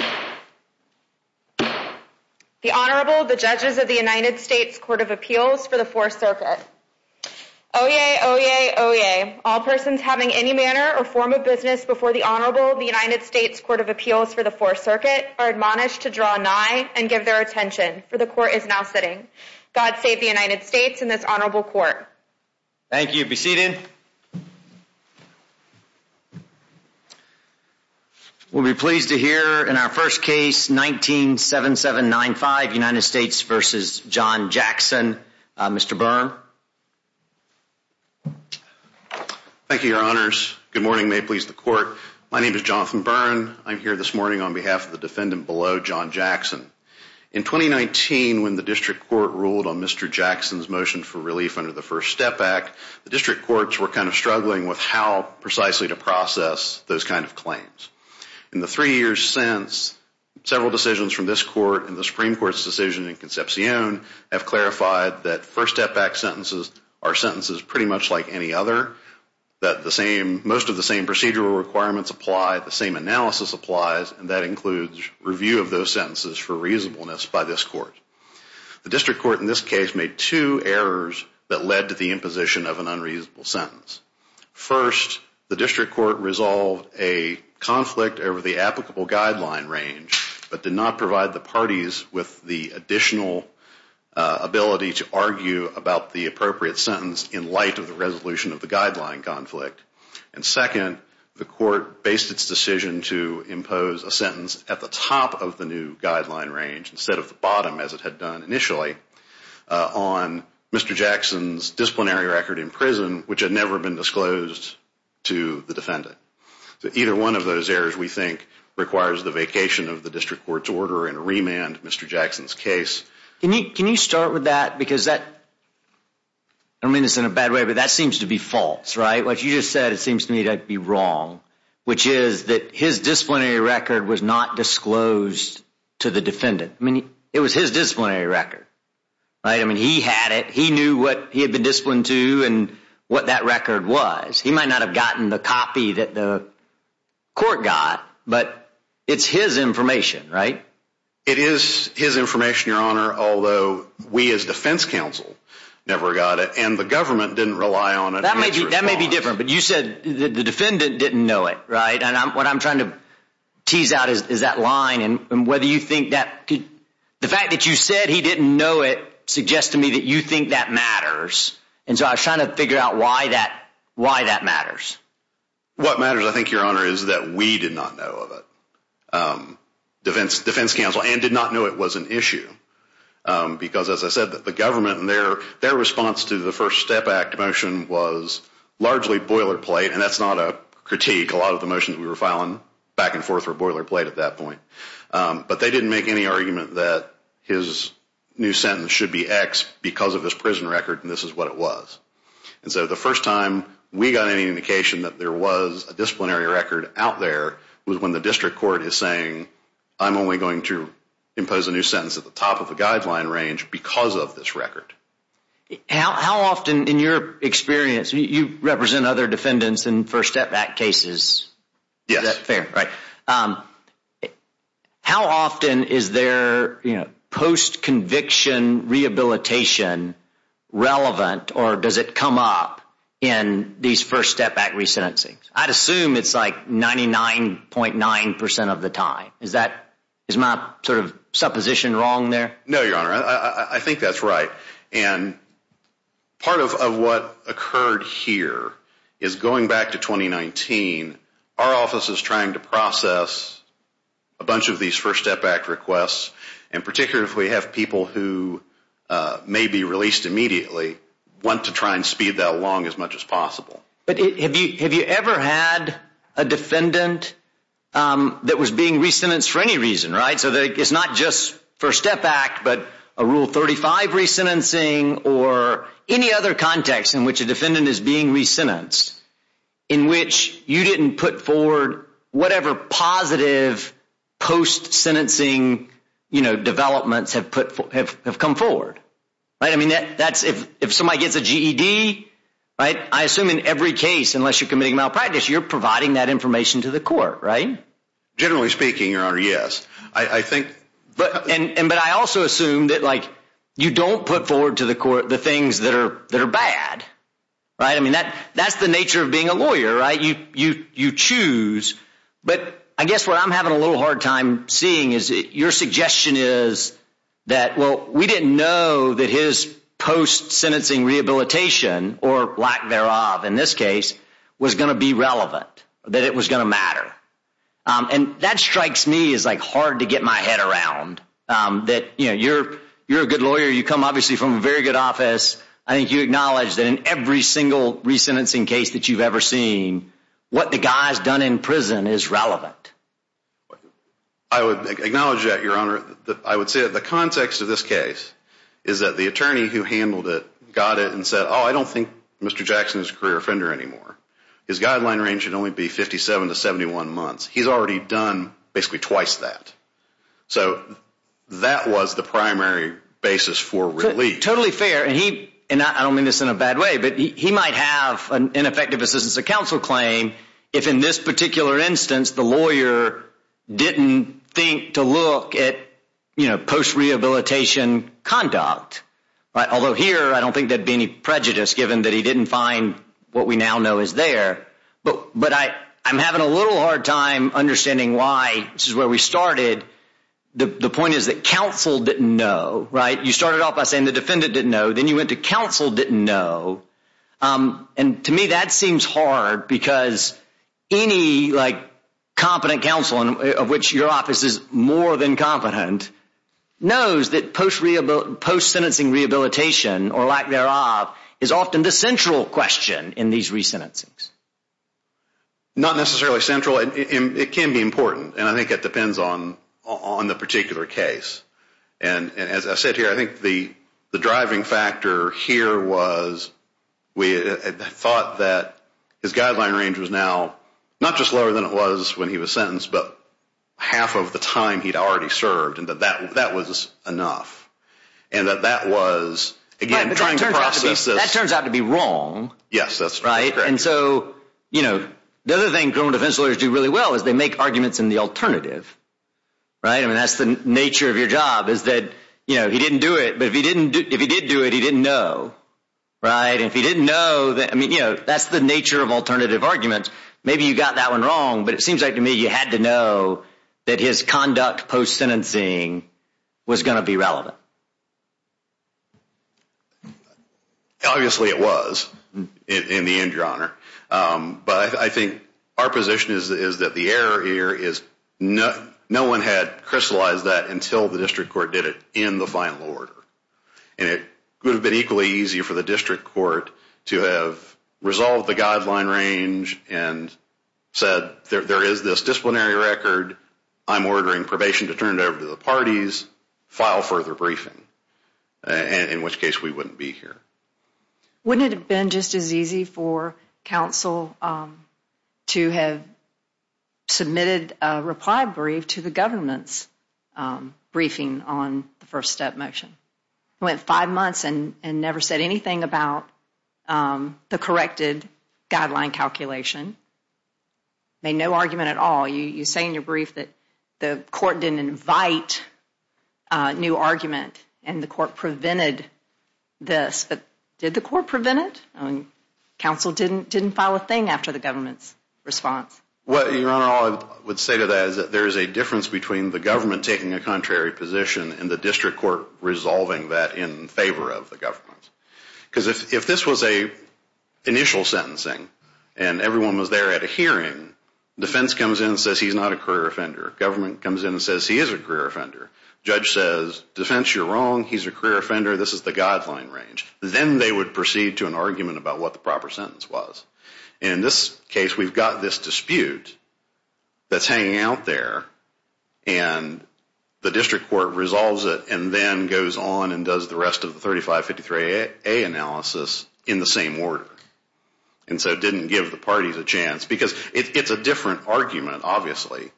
The Honorable, the Judges of the United States Court of Appeals for the 4th Circuit. Oyez! Oyez! Oyez! All persons having any manner or form of business before the Honorable of the United States Court of Appeals for the 4th Circuit are admonished to draw nigh and give their attention, for the Court is now sitting. God save the United States and this Honorable Court. Thank you. Be seated. We'll be pleased to hear in our first case, 19-7795, United States v. John Jackson. Mr. Byrne. Thank you, Your Honors. Good morning. May it please the Court. My name is Jonathan Byrne. I'm here this morning on behalf of the defendant below, John Jackson. In 2019, when the District Court ruled on Mr. Jackson's motion for relief under the First Step Act, the District Courts were kind of struggling with how precisely to process those kind of claims. In the three years since, several decisions from this Court and the Supreme Court's decision in Concepcion have clarified that First Step Act sentences are sentences pretty much like any other, that most of the same procedural requirements apply, the same analysis applies, and that includes review of those sentences for reasonableness by this Court. The District Court in this case made two errors that led to the imposition of an unreasonable sentence. First, the District Court resolved a conflict over the applicable guideline range, but did not provide the parties with the additional ability to argue about the appropriate sentence in light of the resolution of the guideline conflict. And second, the Court based its decision to impose a sentence at the top of the new guideline range instead of the bottom, as it had done initially, on Mr. Jackson's disciplinary record in prison, which had never been disclosed to the defendant. So either one of those errors, we think, requires the vacation of the District Court's order and a remand in Mr. Jackson's case. Can you start with that, because that, I don't mean this in a bad way, but that seems to be false, right? What you just said, it seems to me to be wrong, which is that his disciplinary record was not disclosed to the defendant. I mean, it was his disciplinary record, right? I mean, he had it. He knew what he had been disciplined to and what that record was. He might not have gotten the copy that the Court got, but it's his information, right? It is his information, Your Honor, although we as defense counsel never got it, and the government didn't rely on it. That may be different, but you said the defendant didn't know it, right? And what I'm trying to tease out is that line and whether you think that could – the fact that you said he didn't know it suggests to me that you think that matters. And so I was trying to figure out why that matters. What matters, I think, Your Honor, is that we did not know of it, defense counsel, and did not know it was an issue, because as I said, the government and their response to the First Step Act motion was largely boilerplate, and that's not a critique. A lot of the motions we were filing back and forth were boilerplate at that point. But they didn't make any argument that his new sentence should be X because of his prison record, and this is what it was. And so the first time we got any indication that there was a disciplinary record out there was when the district court is saying, I'm only going to impose a new sentence at the top of the guideline range because of this record. How often in your experience – you represent other defendants in First Step Act cases. Yes. Is that fair? Right. How often is their post-conviction rehabilitation relevant, or does it come up in these First Step Act resentencings? I'd assume it's like 99.9% of the time. Is my sort of supposition wrong there? No, Your Honor. I think that's right. And part of what occurred here is going back to 2019, our office is trying to process a bunch of these First Step Act requests, and particularly if we have people who may be released immediately, want to try and speed that along as much as possible. But have you ever had a defendant that was being re-sentenced for any reason, right? So it's not just First Step Act, but a Rule 35 resentencing or any other context in which a defendant is being re-sentenced, in which you didn't put forward whatever positive post-sentencing developments have come forward. If somebody gets a GED, I assume in every case, unless you're committing malpractice, you're providing that information to the court, right? Generally speaking, Your Honor, yes. But I also assume that you don't put forward to the court the things that are bad, right? I mean, that's the nature of being a lawyer, right? You choose. But I guess what I'm having a little hard time seeing is your suggestion is that, well, we didn't know that his post-sentencing rehabilitation, or lack thereof in this case, was going to be relevant, that it was going to matter. And that strikes me as hard to get my head around, that you're a good lawyer. You come, obviously, from a very good office. I think you acknowledge that in every single re-sentencing case that you've ever seen, what the guy's done in prison is relevant. I would acknowledge that, Your Honor. I would say that the context of this case is that the attorney who handled it got it and said, oh, I don't think Mr. Jackson is a career offender anymore. His guideline range should only be 57 to 71 months. He's already done basically twice that. So that was the primary basis for relief. Totally fair. And I don't mean this in a bad way, but he might have an ineffective assistance of counsel claim if, in this particular instance, the lawyer didn't think to look at post-rehabilitation conduct. Although here, I don't think there'd be any prejudice, given that he didn't find what we now know is there. But I'm having a little hard time understanding why this is where we started. The point is that counsel didn't know, right? You started off by saying the defendant didn't know. Then you went to counsel didn't know. And to me, that seems hard because any competent counsel, of which your office is more than competent, knows that post-sentencing rehabilitation or lack thereof is often the central question in these re-sentencings. Not necessarily central. It can be important, and I think it depends on the particular case. And as I said here, I think the driving factor here was we thought that his guideline range was now not just lower than it was when he was sentenced, but half of the time he'd already served and that that was enough and that that was, again, trying to process this. Right, but that turns out to be wrong. Yes, that's right. And so, you know, the other thing criminal defense lawyers do really well is they make arguments in the alternative, right? I mean, that's the nature of your job is that, you know, he didn't do it. But if he did do it, he didn't know, right? And if he didn't know, I mean, you know, that's the nature of alternative arguments. Maybe you got that one wrong, but it seems like to me you had to know that his conduct post-sentencing was going to be relevant. Obviously it was in the end, Your Honor. But I think our position is that the error here is no one had crystallized that until the district court did it in the final order. And it would have been equally easy for the district court to have resolved the guideline range and said there is this disciplinary record. I'm ordering probation to turn it over to the parties. File further briefing, in which case we wouldn't be here. Wouldn't it have been just as easy for counsel to have submitted a reply brief to the government's briefing on the first step motion? Went five months and never said anything about the corrected guideline calculation. Made no argument at all. You say in your brief that the court didn't invite new argument and the court prevented this. But did the court prevent it? Counsel didn't file a thing after the government's response. Well, Your Honor, all I would say to that is that there is a difference between the government taking a contrary position and the district court resolving that in favor of the government. Because if this was an initial sentencing and everyone was there at a hearing, defense comes in and says he's not a career offender. Government comes in and says he is a career offender. Judge says defense, you're wrong. He's a career offender. This is the guideline range. Then they would proceed to an argument about what the proper sentence was. And in this case, we've got this dispute that's hanging out there and the district court resolves it and then goes on and does the rest of the 3553A analysis in the same order. And so it didn't give the parties a chance. Because it's a different argument, obviously.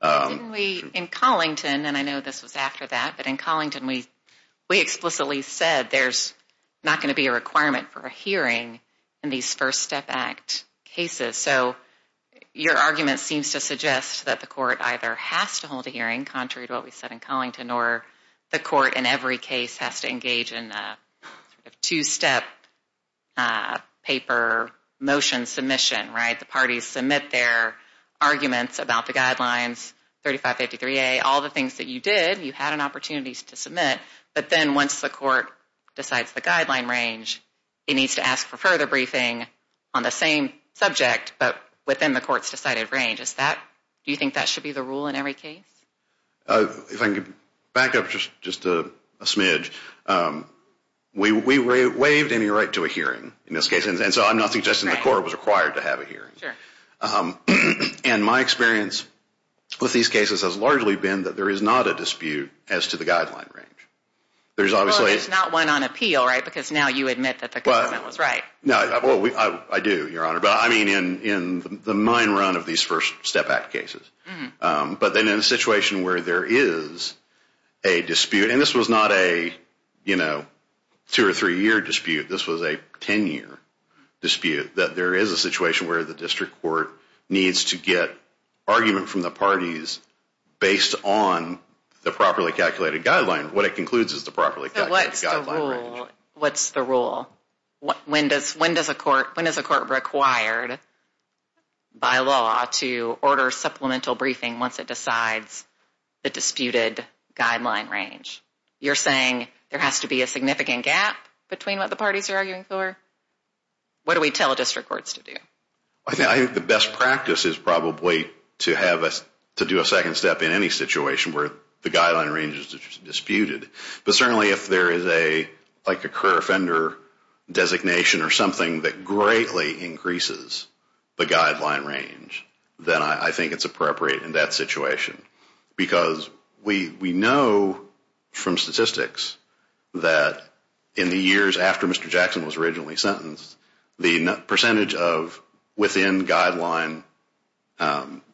Didn't we in Collington, and I know this was after that, but in Collington, we explicitly said there's not going to be a requirement for a hearing in these First Step Act cases. So your argument seems to suggest that the court either has to hold a hearing, contrary to what we said in Collington, or the court in every case has to engage in a two-step paper motion submission, right? The parties submit their arguments about the guidelines, 3553A. All the things that you did, you had an opportunity to submit. But then once the court decides the guideline range, it needs to ask for further briefing on the same subject, but within the court's decided range. Do you think that should be the rule in every case? If I could back up just a smidge, we waived any right to a hearing in this case. And so I'm not suggesting the court was required to have a hearing. And my experience with these cases has largely been that there is not a dispute as to the guideline range. Well, there's not one on appeal, right, because now you admit that the government was right. I do, Your Honor, but I mean in the mine run of these First Step Act cases. But then in a situation where there is a dispute, and this was not a two- or three-year dispute, this was a ten-year dispute, that there is a situation where the district court needs to get argument from the parties based on the properly calculated guideline. What it concludes is the properly calculated guideline range. So what's the rule? When is a court required by law to order supplemental briefing once it decides the disputed guideline range? You're saying there has to be a significant gap between what the parties are arguing for? What do we tell district courts to do? I think the best practice is probably to do a second step in any situation where the guideline range is disputed. But certainly if there is a career offender designation or something that greatly increases the guideline range, then I think it's appropriate in that situation. Because we know from statistics that in the years after Mr. Jackson was originally sentenced, the percentage of within-guideline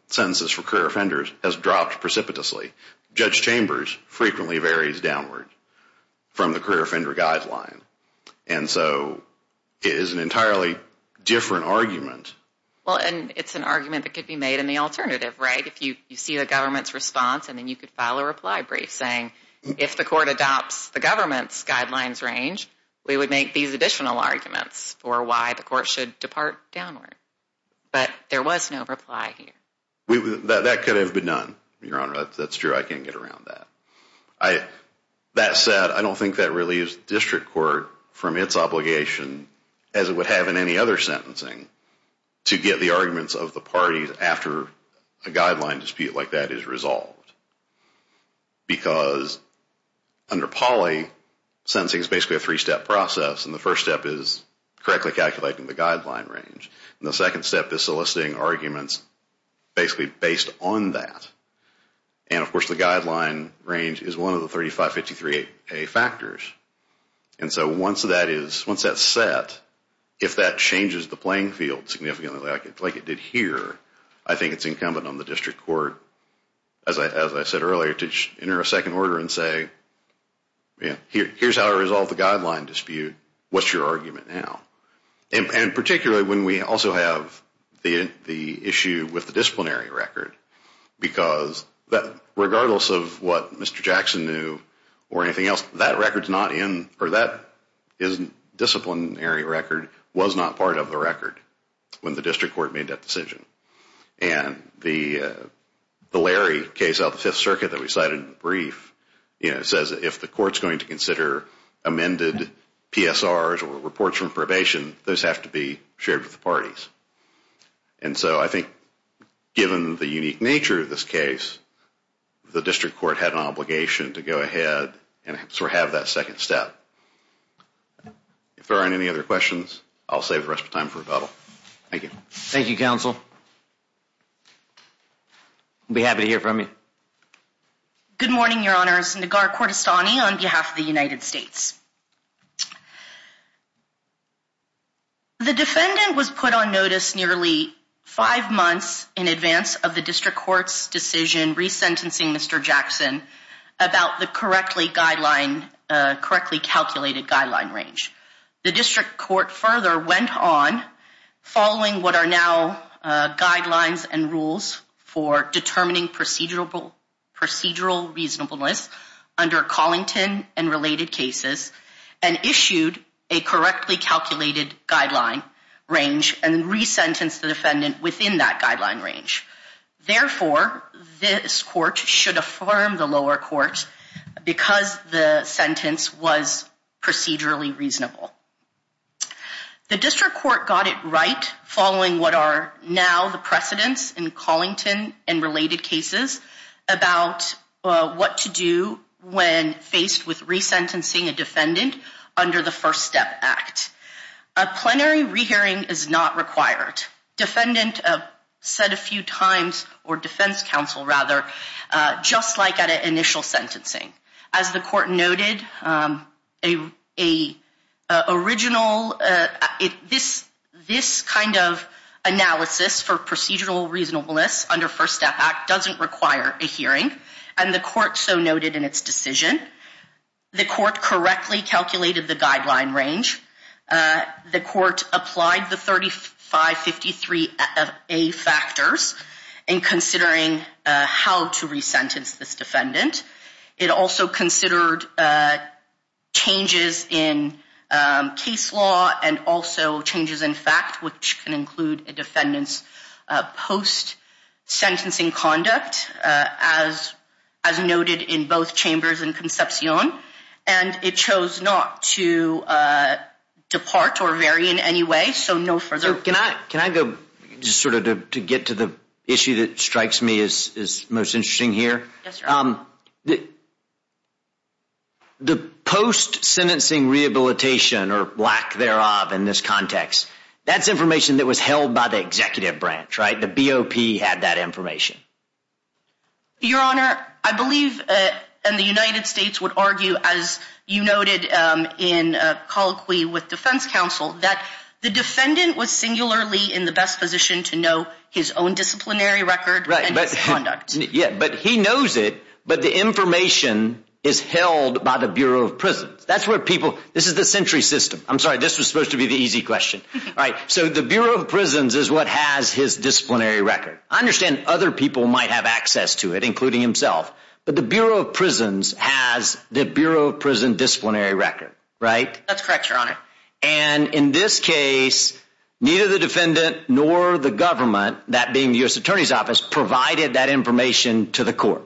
sentences for career offenders has dropped precipitously. Judge Chambers frequently varies downward from the career offender guideline. And so it is an entirely different argument. Well, and it's an argument that could be made in the alternative, right? If you see the government's response and then you could file a reply brief saying, if the court adopts the government's guidelines range, we would make these additional arguments for why the court should depart downward. But there was no reply here. That could have been done, Your Honor. That's true. I can't get around that. That said, I don't think that really is district court from its obligation, as it would have in any other sentencing, to get the arguments of the parties after a guideline dispute like that is resolved. Because under poly, sentencing is basically a three-step process. And the first step is correctly calculating the guideline range. And the second step is soliciting arguments basically based on that. And, of course, the guideline range is one of the 3553A factors. And so once that's set, if that changes the playing field significantly like it did here, I think it's incumbent on the district court, as I said earlier, to enter a second order and say, here's how to resolve the guideline dispute. What's your argument now? And particularly when we also have the issue with the disciplinary record, because regardless of what Mr. Jackson knew or anything else, that record's not in, or that disciplinary record was not part of the record when the district court made that decision. And the Larry case out of the Fifth Circuit that we cited in the brief says if the court's going to consider amended PSRs or reports from probation, those have to be shared with the parties. And so I think given the unique nature of this case, the district court had an obligation to go ahead and sort of have that second step. If there aren't any other questions, I'll save the rest of the time for rebuttal. Thank you. Thank you, counsel. I'll be happy to hear from you. Good morning, Your Honors. Nagar Kordestani on behalf of the United States. The defendant was put on notice nearly five months in advance of the district court's decision resentencing Mr. Jackson about the correctly calculated guideline range. The district court further went on, following what are now guidelines and rules for determining procedural reasonableness under Collington and related cases, and issued a correctly calculated guideline range and then resentenced the defendant within that guideline range. Therefore, this court should affirm the lower court because the sentence was procedurally reasonable. The district court got it right following what are now the precedents in Collington and related cases about what to do when faced with resentencing a defendant under the First Step Act. A plenary rehearing is not required. Defendant said a few times, or defense counsel rather, just like at an initial sentencing. As the court noted, this kind of analysis for procedural reasonableness under First Step Act doesn't require a hearing, and the court so noted in its decision. The court correctly calculated the guideline range. The court applied the 3553A factors in considering how to resentence this defendant. It also considered changes in case law and also changes in fact, which can include a defendant's post-sentencing conduct, as noted in both Chambers and Concepcion, and it chose not to depart or vary in any way, so no further. Can I go just sort of to get to the issue that strikes me as most interesting here? Yes, sir. The post-sentencing rehabilitation or lack thereof in this context, that's information that was held by the executive branch, right? The BOP had that information. Your Honor, I believe, and the United States would argue, as you noted in colloquy with defense counsel, that the defendant was singularly in the best position to know his own disciplinary record and his conduct. Yeah, but he knows it, but the information is held by the Bureau of Prisons. That's where people, this is the sentry system. I'm sorry, this was supposed to be the easy question. All right, so the Bureau of Prisons is what has his disciplinary record. I understand other people might have access to it, including himself, but the Bureau of Prisons has the Bureau of Prison disciplinary record, right? That's correct, Your Honor. And in this case, neither the defendant nor the government, that being the U.S. Attorney's Office, provided that information to the court.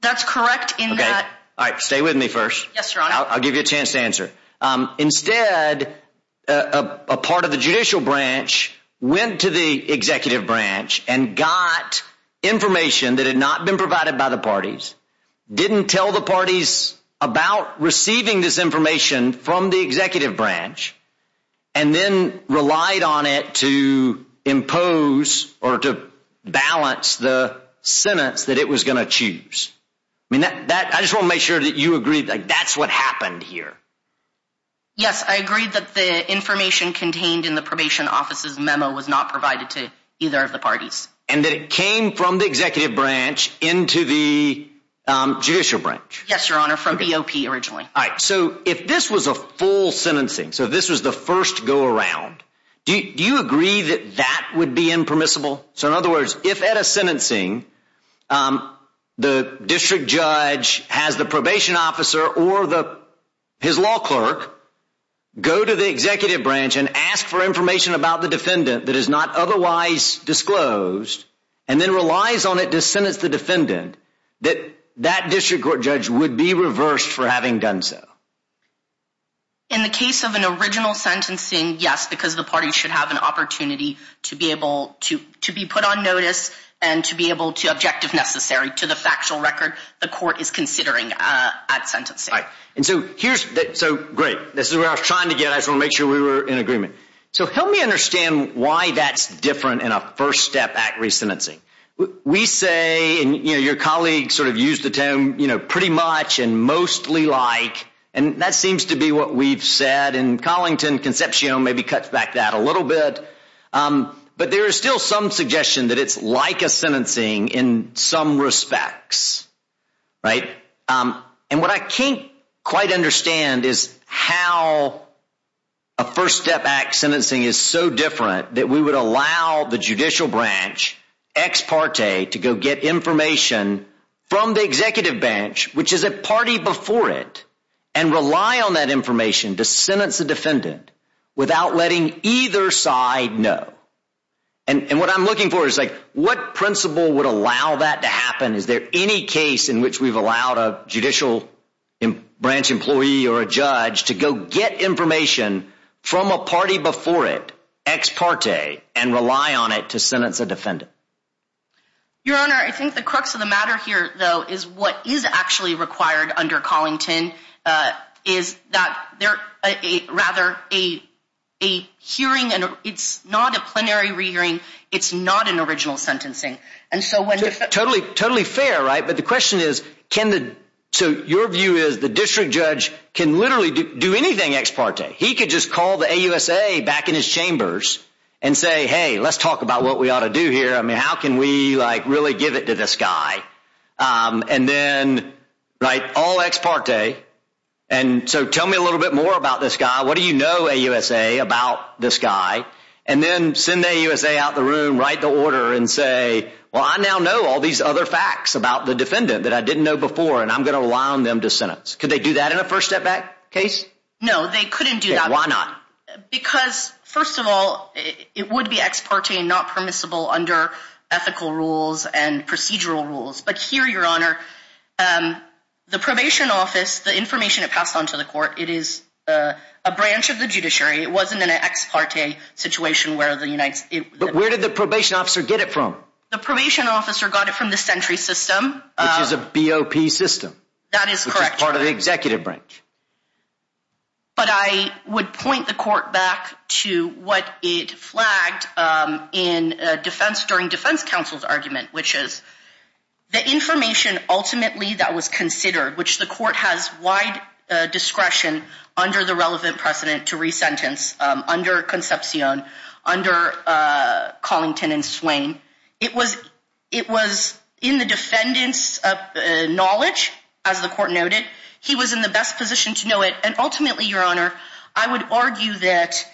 That's correct in that. All right, stay with me first. Yes, Your Honor. I'll give you a chance to answer. Instead, a part of the judicial branch went to the executive branch and got information that had not been provided by the parties, didn't tell the parties about receiving this information from the executive branch, and then relied on it to impose or to balance the sentence that it was going to choose. I just want to make sure that you agree that that's what happened here. Yes, I agree that the information contained in the probation office's memo was not provided to either of the parties. And that it came from the executive branch into the judicial branch. Yes, Your Honor, from BOP originally. All right, so if this was a full sentencing, so this was the first go-around, do you agree that that would be impermissible? So in other words, if at a sentencing, the district judge has the probation officer or his law clerk go to the executive branch and ask for information about the defendant that is not otherwise disclosed, and then relies on it to sentence the defendant, that that district court judge would be reversed for having done so. In the case of an original sentencing, yes, because the parties should have an opportunity to be able to be put on notice and to be able to object if necessary to the factual record the court is considering at sentencing. Right, and so here's, so great, this is where I was trying to get, I just wanted to make sure we were in agreement. So help me understand why that's different in a first step at re-sentencing. We say, and your colleague sort of used the term, you know, pretty much and mostly like, and that seems to be what we've said, and Collington Concepcion maybe cuts back that a little bit. But there is still some suggestion that it's like a sentencing in some respects. Right, and what I can't quite understand is how a first step at sentencing is so different that we would allow the judicial branch, ex parte, to go get information from the executive branch, which is a party before it, and rely on that information to sentence the defendant without letting either side know. And what I'm looking for is like, what principle would allow that to happen? Is there any case in which we've allowed a judicial branch employee or a judge to go get information from a party before it, ex parte, and rely on it to sentence a defendant? Your Honor, I think the crux of the matter here though is what is actually required under Collington is that there, rather, a hearing, it's not a plenary re-hearing, it's not an original sentencing. Totally fair, right, but the question is, can the, so your view is the district judge can literally do anything ex parte. He could just call the AUSA back in his chambers and say, hey, let's talk about what we ought to do here. I mean, how can we like really give it to this guy? And then, right, all ex parte, and so tell me a little bit more about this guy. What do you know, AUSA, about this guy? And then send the AUSA out the room, write the order, and say, well, I now know all these other facts about the defendant that I didn't know before, and I'm going to rely on them to sentence. Could they do that in a first step back case? No, they couldn't do that. Why not? Because, first of all, it would be ex parte and not permissible under ethical rules and procedural rules. But here, Your Honor, the probation office, the information it passed on to the court, it is a branch of the judiciary. It wasn't an ex parte situation where the United States. But where did the probation officer get it from? The probation officer got it from the Sentry System. Which is a BOP system. That is correct. Which is part of the executive branch. But I would point the court back to what it flagged in defense during defense counsel's argument, which is the information ultimately that was considered, which the court has wide discretion under the relevant precedent to re-sentence under Concepcion, under Collington and Swain. It was in the defendant's knowledge, as the court noted. He was in the best position to know it. And ultimately, Your Honor, I would argue that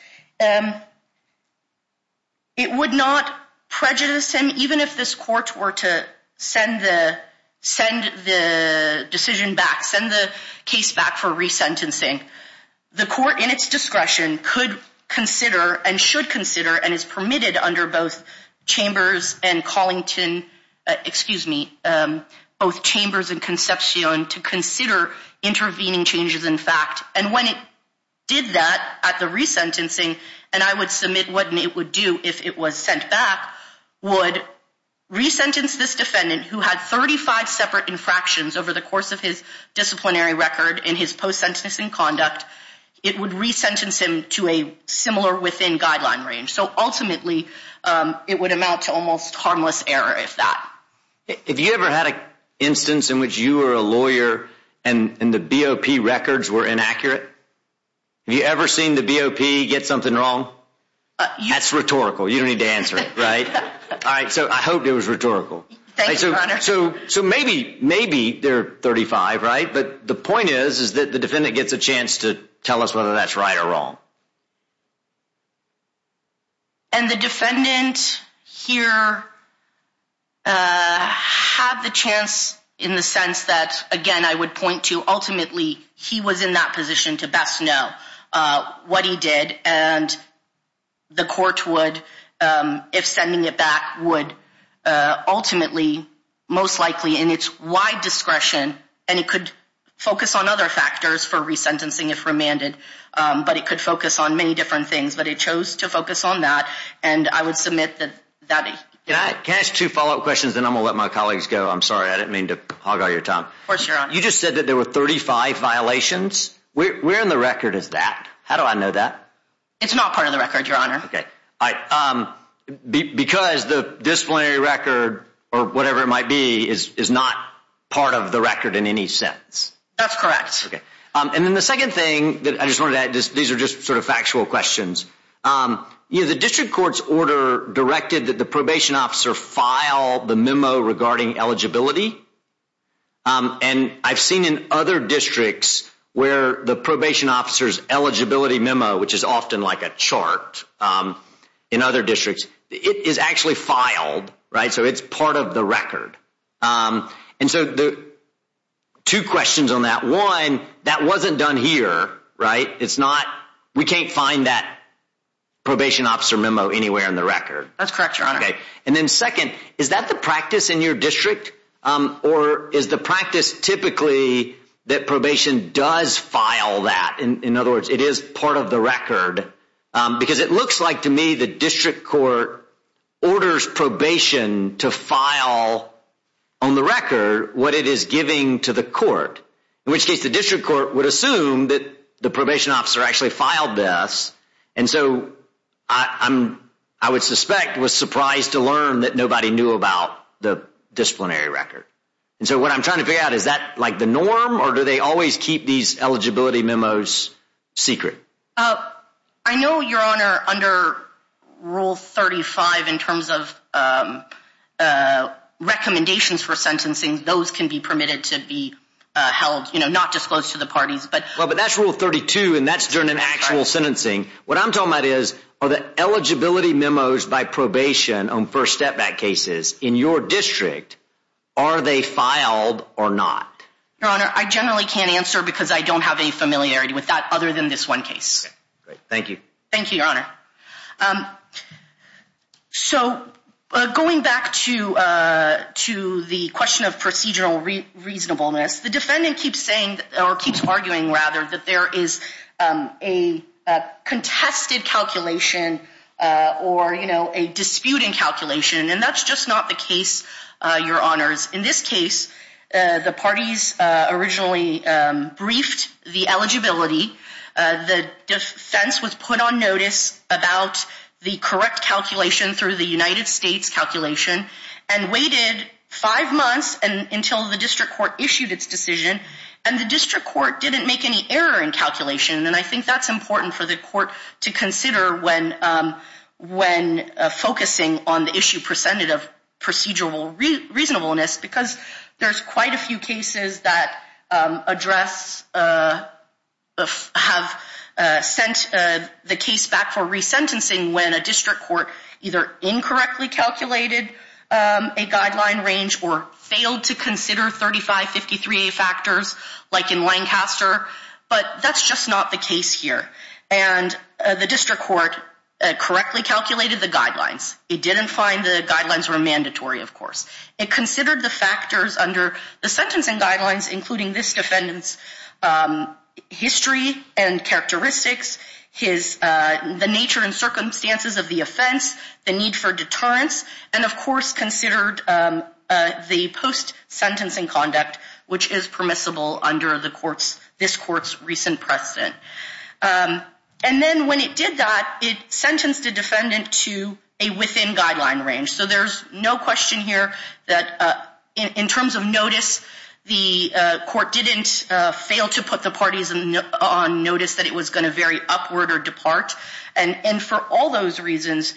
it would not prejudice him. Even if this court were to send the decision back, send the case back for re-sentencing, the court in its discretion could consider and should consider and is permitted under both chambers and Collington, excuse me, both chambers and Concepcion to consider intervening changes in fact. And when it did that at the re-sentencing, and I would submit what it would do if it was sent back, would re-sentence this defendant who had 35 separate infractions over the course of his disciplinary record in his post-sentencing conduct. It would re-sentence him to a similar within guideline range. So ultimately, it would amount to almost harmless error if that. If you ever had an instance in which you were a lawyer and the BOP records were inaccurate, have you ever seen the BOP get something wrong? That's rhetorical. You don't need to answer it, right? All right. So I hope it was rhetorical. Thank you, Your Honor. So maybe they're 35, right? But the point is that the defendant gets a chance to tell us whether that's right or wrong. And the defendant here had the chance in the sense that, again, I would point to ultimately he was in that position to best know what he did. And the court would, if sending it back, would ultimately most likely in its wide discretion and it could focus on other factors for re-sentencing if remanded. But it could focus on many different things. But it chose to focus on that. And I would submit that that. Can I ask two follow-up questions? Then I'm going to let my colleagues go. I'm sorry. I didn't mean to hog all your time. Of course, Your Honor. You just said that there were 35 violations. Where in the record is that? How do I know that? It's not part of the record, Your Honor. Okay. Because the disciplinary record or whatever it might be is not part of the record in any sense. That's correct. Okay. And then the second thing that I just wanted to add, these are just sort of factual questions. The district court's order directed that the probation officer file the memo regarding eligibility. And I've seen in other districts where the probation officer's eligibility memo, which is often like a chart in other districts, it is actually filed, right? So it's part of the record. And so two questions on that. One, that wasn't done here, right? It's not. We can't find that probation officer memo anywhere in the record. That's correct, Your Honor. Okay. And then second, is that the practice in your district? Or is the practice typically that probation does file that? In other words, it is part of the record. Because it looks like to me the district court orders probation to file on the record what it is giving to the court. In which case the district court would assume that the probation officer actually filed this. And so I would suspect was surprised to learn that nobody knew about the disciplinary record. And so what I'm trying to figure out, is that like the norm? Or do they always keep these eligibility memos secret? I know, Your Honor, under Rule 35 in terms of recommendations for sentencing, those can be permitted to be held, you know, not disclosed to the parties. But that's Rule 32 and that's during an actual sentencing. What I'm talking about is, are the eligibility memos by probation on first step back cases in your district, are they filed or not? Your Honor, I generally can't answer because I don't have any familiarity with that other than this one case. Thank you. Thank you, Your Honor. So going back to the question of procedural reasonableness, the defendant keeps arguing that there is a contested calculation or a disputing calculation. And that's just not the case, Your Honors. In this case, the parties originally briefed the eligibility. The defense was put on notice about the correct calculation through the United States calculation. And waited five months until the district court issued its decision. And the district court didn't make any error in calculation. And I think that's important for the court to consider when focusing on the issue presented of procedural reasonableness. Because there's quite a few cases that address, have sent the case back for resentencing when a district court either incorrectly calculated a guideline range or failed to consider 3553A factors like in Lancaster. But that's just not the case here. And the district court correctly calculated the guidelines. It didn't find the guidelines were mandatory, of course. It considered the factors under the sentencing guidelines, including this defendant's history and characteristics, the nature and circumstances of the offense, the need for deterrence. And, of course, considered the post-sentencing conduct, which is permissible under this court's recent precedent. And then when it did that, it sentenced the defendant to a within-guideline range. So there's no question here that in terms of notice, the court didn't fail to put the parties on notice that it was going to vary upward or depart. And for all those reasons,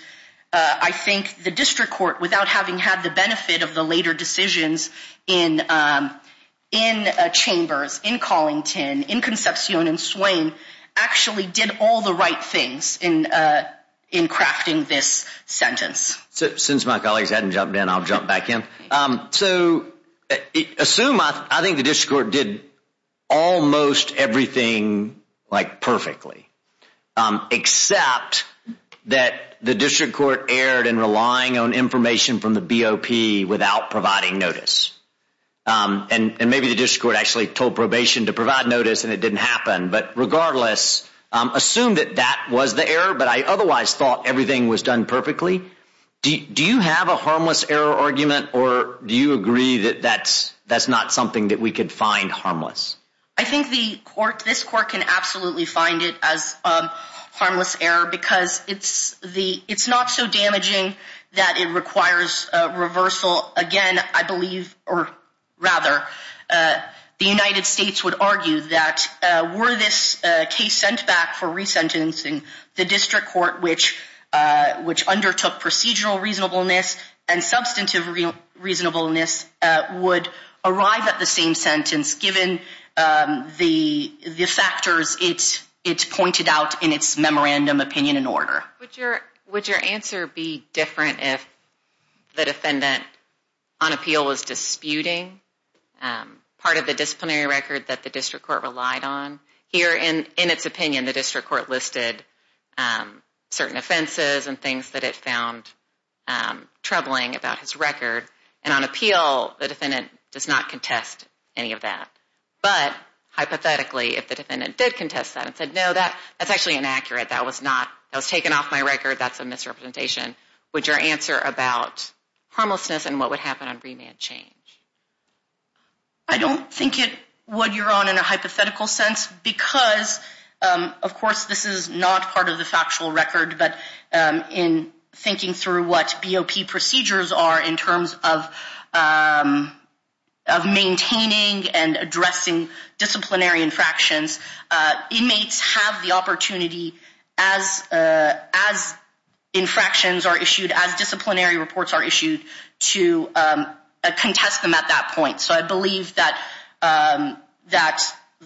I think the district court, without having had the benefit of the later decisions in Chambers, in Collington, in Concepcion and Swain, actually did all the right things in crafting this sentence. Since my colleagues hadn't jumped in, I'll jump back in. So assume I think the district court did almost everything perfectly, except that the district court erred in relying on information from the BOP without providing notice. And maybe the district court actually told probation to provide notice and it didn't happen. But regardless, assume that that was the error, but I otherwise thought everything was done perfectly. Do you have a harmless error argument or do you agree that that's not something that we could find harmless? I think this court can absolutely find it as harmless error because it's not so damaging that it requires reversal. Again, I believe, or rather, the United States would argue that were this case sent back for resentencing, the district court, which undertook procedural reasonableness and substantive reasonableness, would arrive at the same sentence given the factors it's pointed out in its memorandum opinion and order. Would your answer be different if the defendant on appeal was disputing part of the disciplinary record that the district court relied on? Here, in its opinion, the district court listed certain offenses and things that it found troubling about his record. And on appeal, the defendant does not contest any of that. But hypothetically, if the defendant did contest that and said, no, that's actually inaccurate, that was taken off my record, that's a misrepresentation, would your answer about harmlessness and what would happen on remand change? I don't think it would, your Honor, in a hypothetical sense because, of course, this is not part of the factual record, but in thinking through what BOP procedures are in terms of maintaining and addressing disciplinary infractions, inmates have the opportunity, as infractions are issued, as disciplinary reports are issued, to contest them at that point. So I believe that,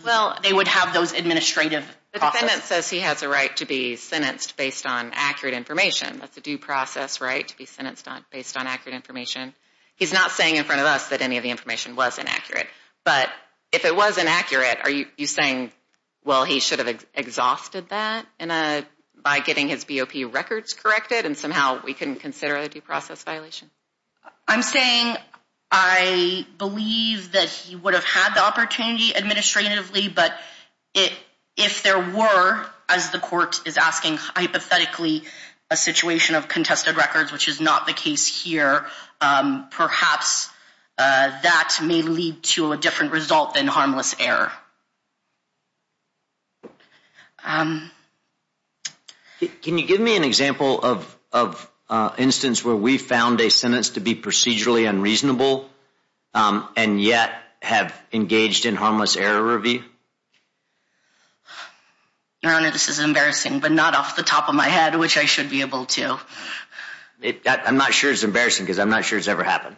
well, they would have those administrative processes. The defendant says he has a right to be sentenced based on accurate information. That's a due process right, to be sentenced based on accurate information. He's not saying in front of us that any of the information was inaccurate. But if it was inaccurate, are you saying, well, he should have exhausted that by getting his BOP records corrected and somehow we couldn't consider it a due process violation? I'm saying I believe that he would have had the opportunity administratively, but if there were, as the court is asking, hypothetically, a situation of contested records, which is not the case here, perhaps that may lead to a different result than harmless error. Can you give me an example of an instance where we found a sentence to be procedurally unreasonable and yet have engaged in harmless error review? Your Honor, this is embarrassing, but not off the top of my head, which I should be able to. I'm not sure it's embarrassing because I'm not sure it's ever happened.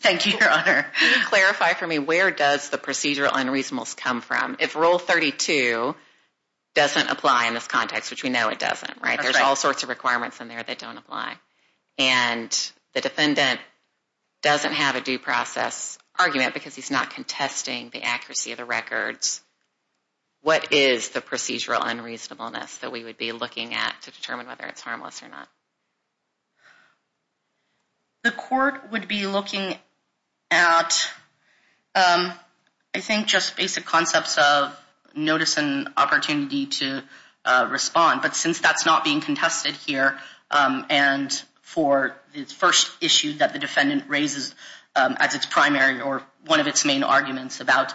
Thank you, Your Honor. Can you clarify for me where does the procedural unreasonableness come from? If Rule 32 doesn't apply in this context, which we know it doesn't, right? There's all sorts of requirements in there that don't apply. And the defendant doesn't have a due process argument because he's not contesting the accuracy of the records. What is the procedural unreasonableness that we would be looking at to determine whether it's harmless or not? The court would be looking at, I think, just basic concepts of notice and opportunity to respond. But since that's not being contested here, and for the first issue that the defendant raises as its primary or one of its main arguments about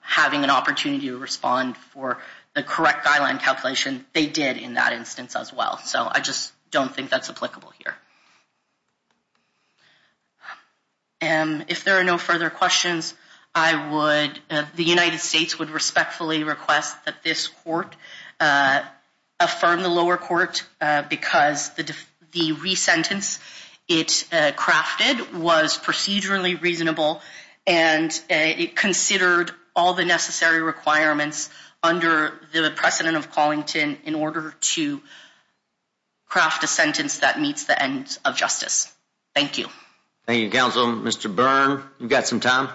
having an opportunity to respond for the correct guideline calculation, they did in that instance as well. So I just don't think that's applicable here. If there are no further questions, the United States would respectfully request that this court affirm the lower court because the re-sentence it crafted was procedurally reasonable. And it considered all the necessary requirements under the precedent of Collington in order to craft a sentence that meets the end of justice. Thank you. Thank you, Counsel. Mr. Byrne, you've got some time.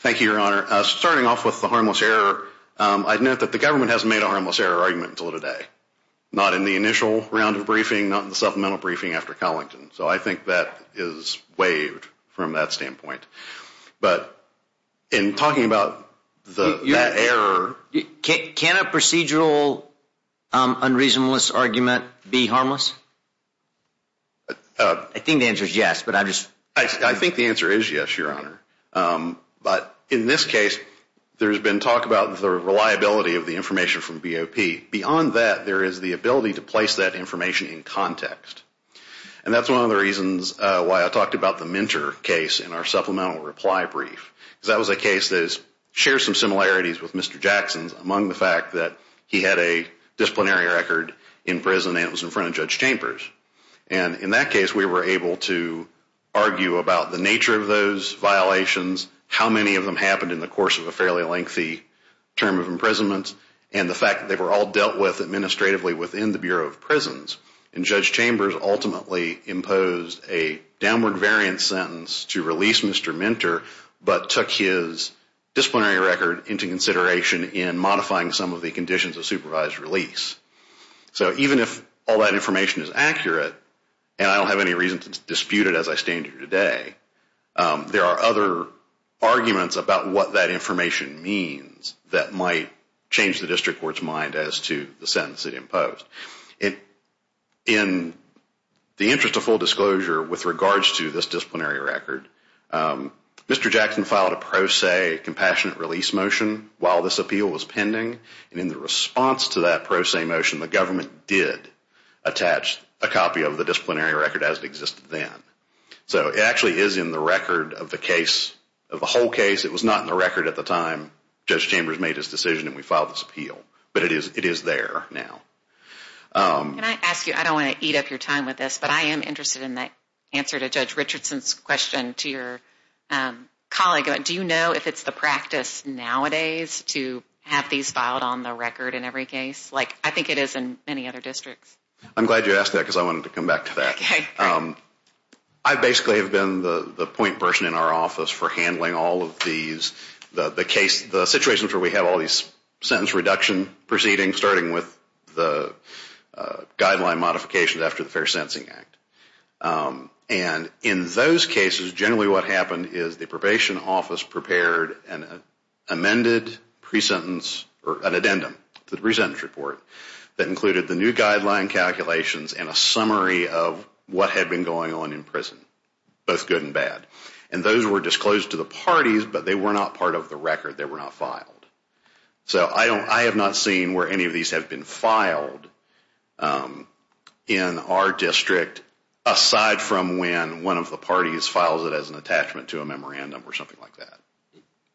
Thank you, Your Honor. Starting off with the harmless error, I'd note that the government hasn't made a harmless error argument until today. Not in the initial round of briefing, not in the supplemental briefing after Collington. So I think that is waived from that standpoint. But in talking about that error... Can a procedural unreasonableness argument be harmless? I think the answer is yes, but I just... I think the answer is yes, Your Honor. But in this case, there's been talk about the reliability of the information from BOP. And that's one of the reasons why I talked about the Minter case in our supplemental reply brief. Because that was a case that shares some similarities with Mr. Jackson's among the fact that he had a disciplinary record in prison and it was in front of Judge Chambers. And in that case, we were able to argue about the nature of those violations, how many of them happened in the course of a fairly lengthy term of imprisonment, and the fact that they were all dealt with administratively within the Bureau of Prisons. And Judge Chambers ultimately imposed a downward variant sentence to release Mr. Minter, but took his disciplinary record into consideration in modifying some of the conditions of supervised release. So even if all that information is accurate, and I don't have any reason to dispute it as I stand here today, there are other arguments about what that information means that might change the district court's mind as to the sentence it imposed. In the interest of full disclosure with regards to this disciplinary record, Mr. Jackson filed a pro se compassionate release motion while this appeal was pending. And in the response to that pro se motion, the government did attach a copy of the disciplinary record as it existed then. So it actually is in the record of the case, of the whole case. It was not in the record at the time Judge Chambers made his decision and we filed this appeal, but it is there now. Can I ask you, I don't want to eat up your time with this, but I am interested in the answer to Judge Richardson's question to your colleague. Do you know if it's the practice nowadays to have these filed on the record in every case? Like, I think it is in many other districts. I'm glad you asked that because I wanted to come back to that. Okay. I basically have been the point person in our office for handling all of these, the situations where we have all of these sentence reduction proceedings, starting with the guideline modification after the Fair Sentencing Act. And in those cases, generally what happened is the probation office prepared an amended pre-sentence, or an addendum to the pre-sentence report that included the new guideline calculations and a summary of what had been going on in prison, both good and bad. And those were disclosed to the parties, but they were not part of the record. They were not filed. So I have not seen where any of these have been filed in our district, aside from when one of the parties files it as an attachment to a memorandum or something like that.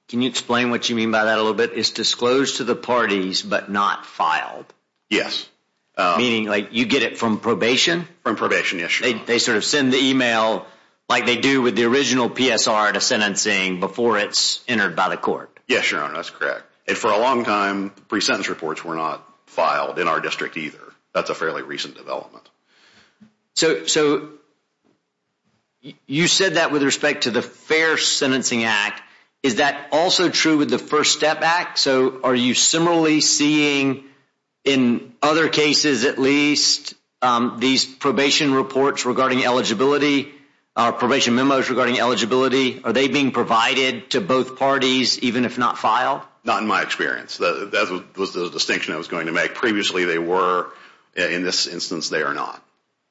Can you explain what you mean by that a little bit? It's disclosed to the parties, but not filed. Yes. Meaning, like, you get it from probation? From probation, yes. They sort of send the email like they do with the original PSR to sentencing before it's entered by the court. Yes, Your Honor, that's correct. And for a long time, pre-sentence reports were not filed in our district either. That's a fairly recent development. So you said that with respect to the Fair Sentencing Act. Is that also true with the First Step Act? So are you similarly seeing in other cases at least these probation reports regarding eligibility, probation memos regarding eligibility, are they being provided to both parties, even if not filed? Not in my experience. That was the distinction I was going to make. Previously, they were. In this instance, they are not.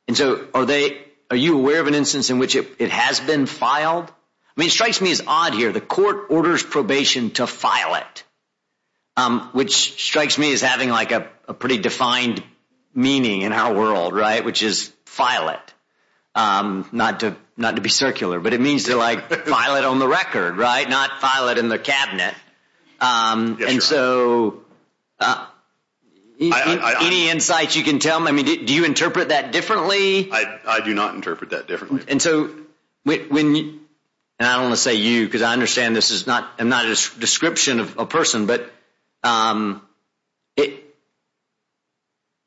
And so are you aware of an instance in which it has been filed? I mean, it strikes me as odd here. The court orders probation to file it, which strikes me as having, like, a pretty defined meaning in our world, right, which is file it. Not to be circular, but it means to, like, file it on the record, right, not file it in the cabinet. And so any insights you can tell me? I mean, do you interpret that differently? I do not interpret that differently. And I don't want to say you because I understand this is not a description of a person, but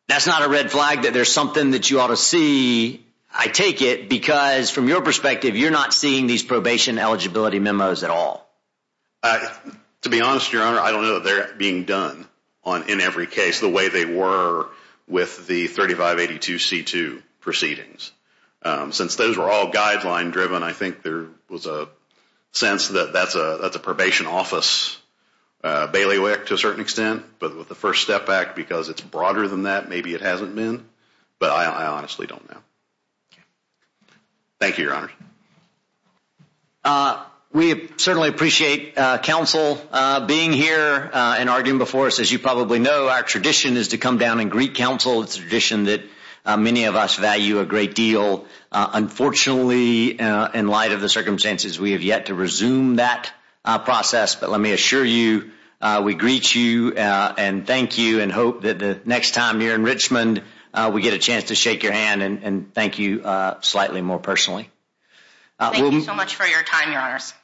that's not a red flag that there's something that you ought to see, I take it, because from your perspective you're not seeing these probation eligibility memos at all. To be honest, Your Honor, I don't know that they're being done in every case the way they were with the 3582C2 proceedings. Since those were all guideline driven, I think there was a sense that that's a probation office bailiwick to a certain extent. But with the First Step Act, because it's broader than that, maybe it hasn't been. But I honestly don't know. Thank you, Your Honor. We certainly appreciate counsel being here and arguing before us. As you probably know, our tradition is to come down and greet counsel. It's a tradition that many of us value a great deal. Unfortunately, in light of the circumstances, we have yet to resume that process. But let me assure you we greet you and thank you and hope that the next time you're in Richmond, we get a chance to shake your hand and thank you slightly more personally. Thank you so much for your time, Your Honors.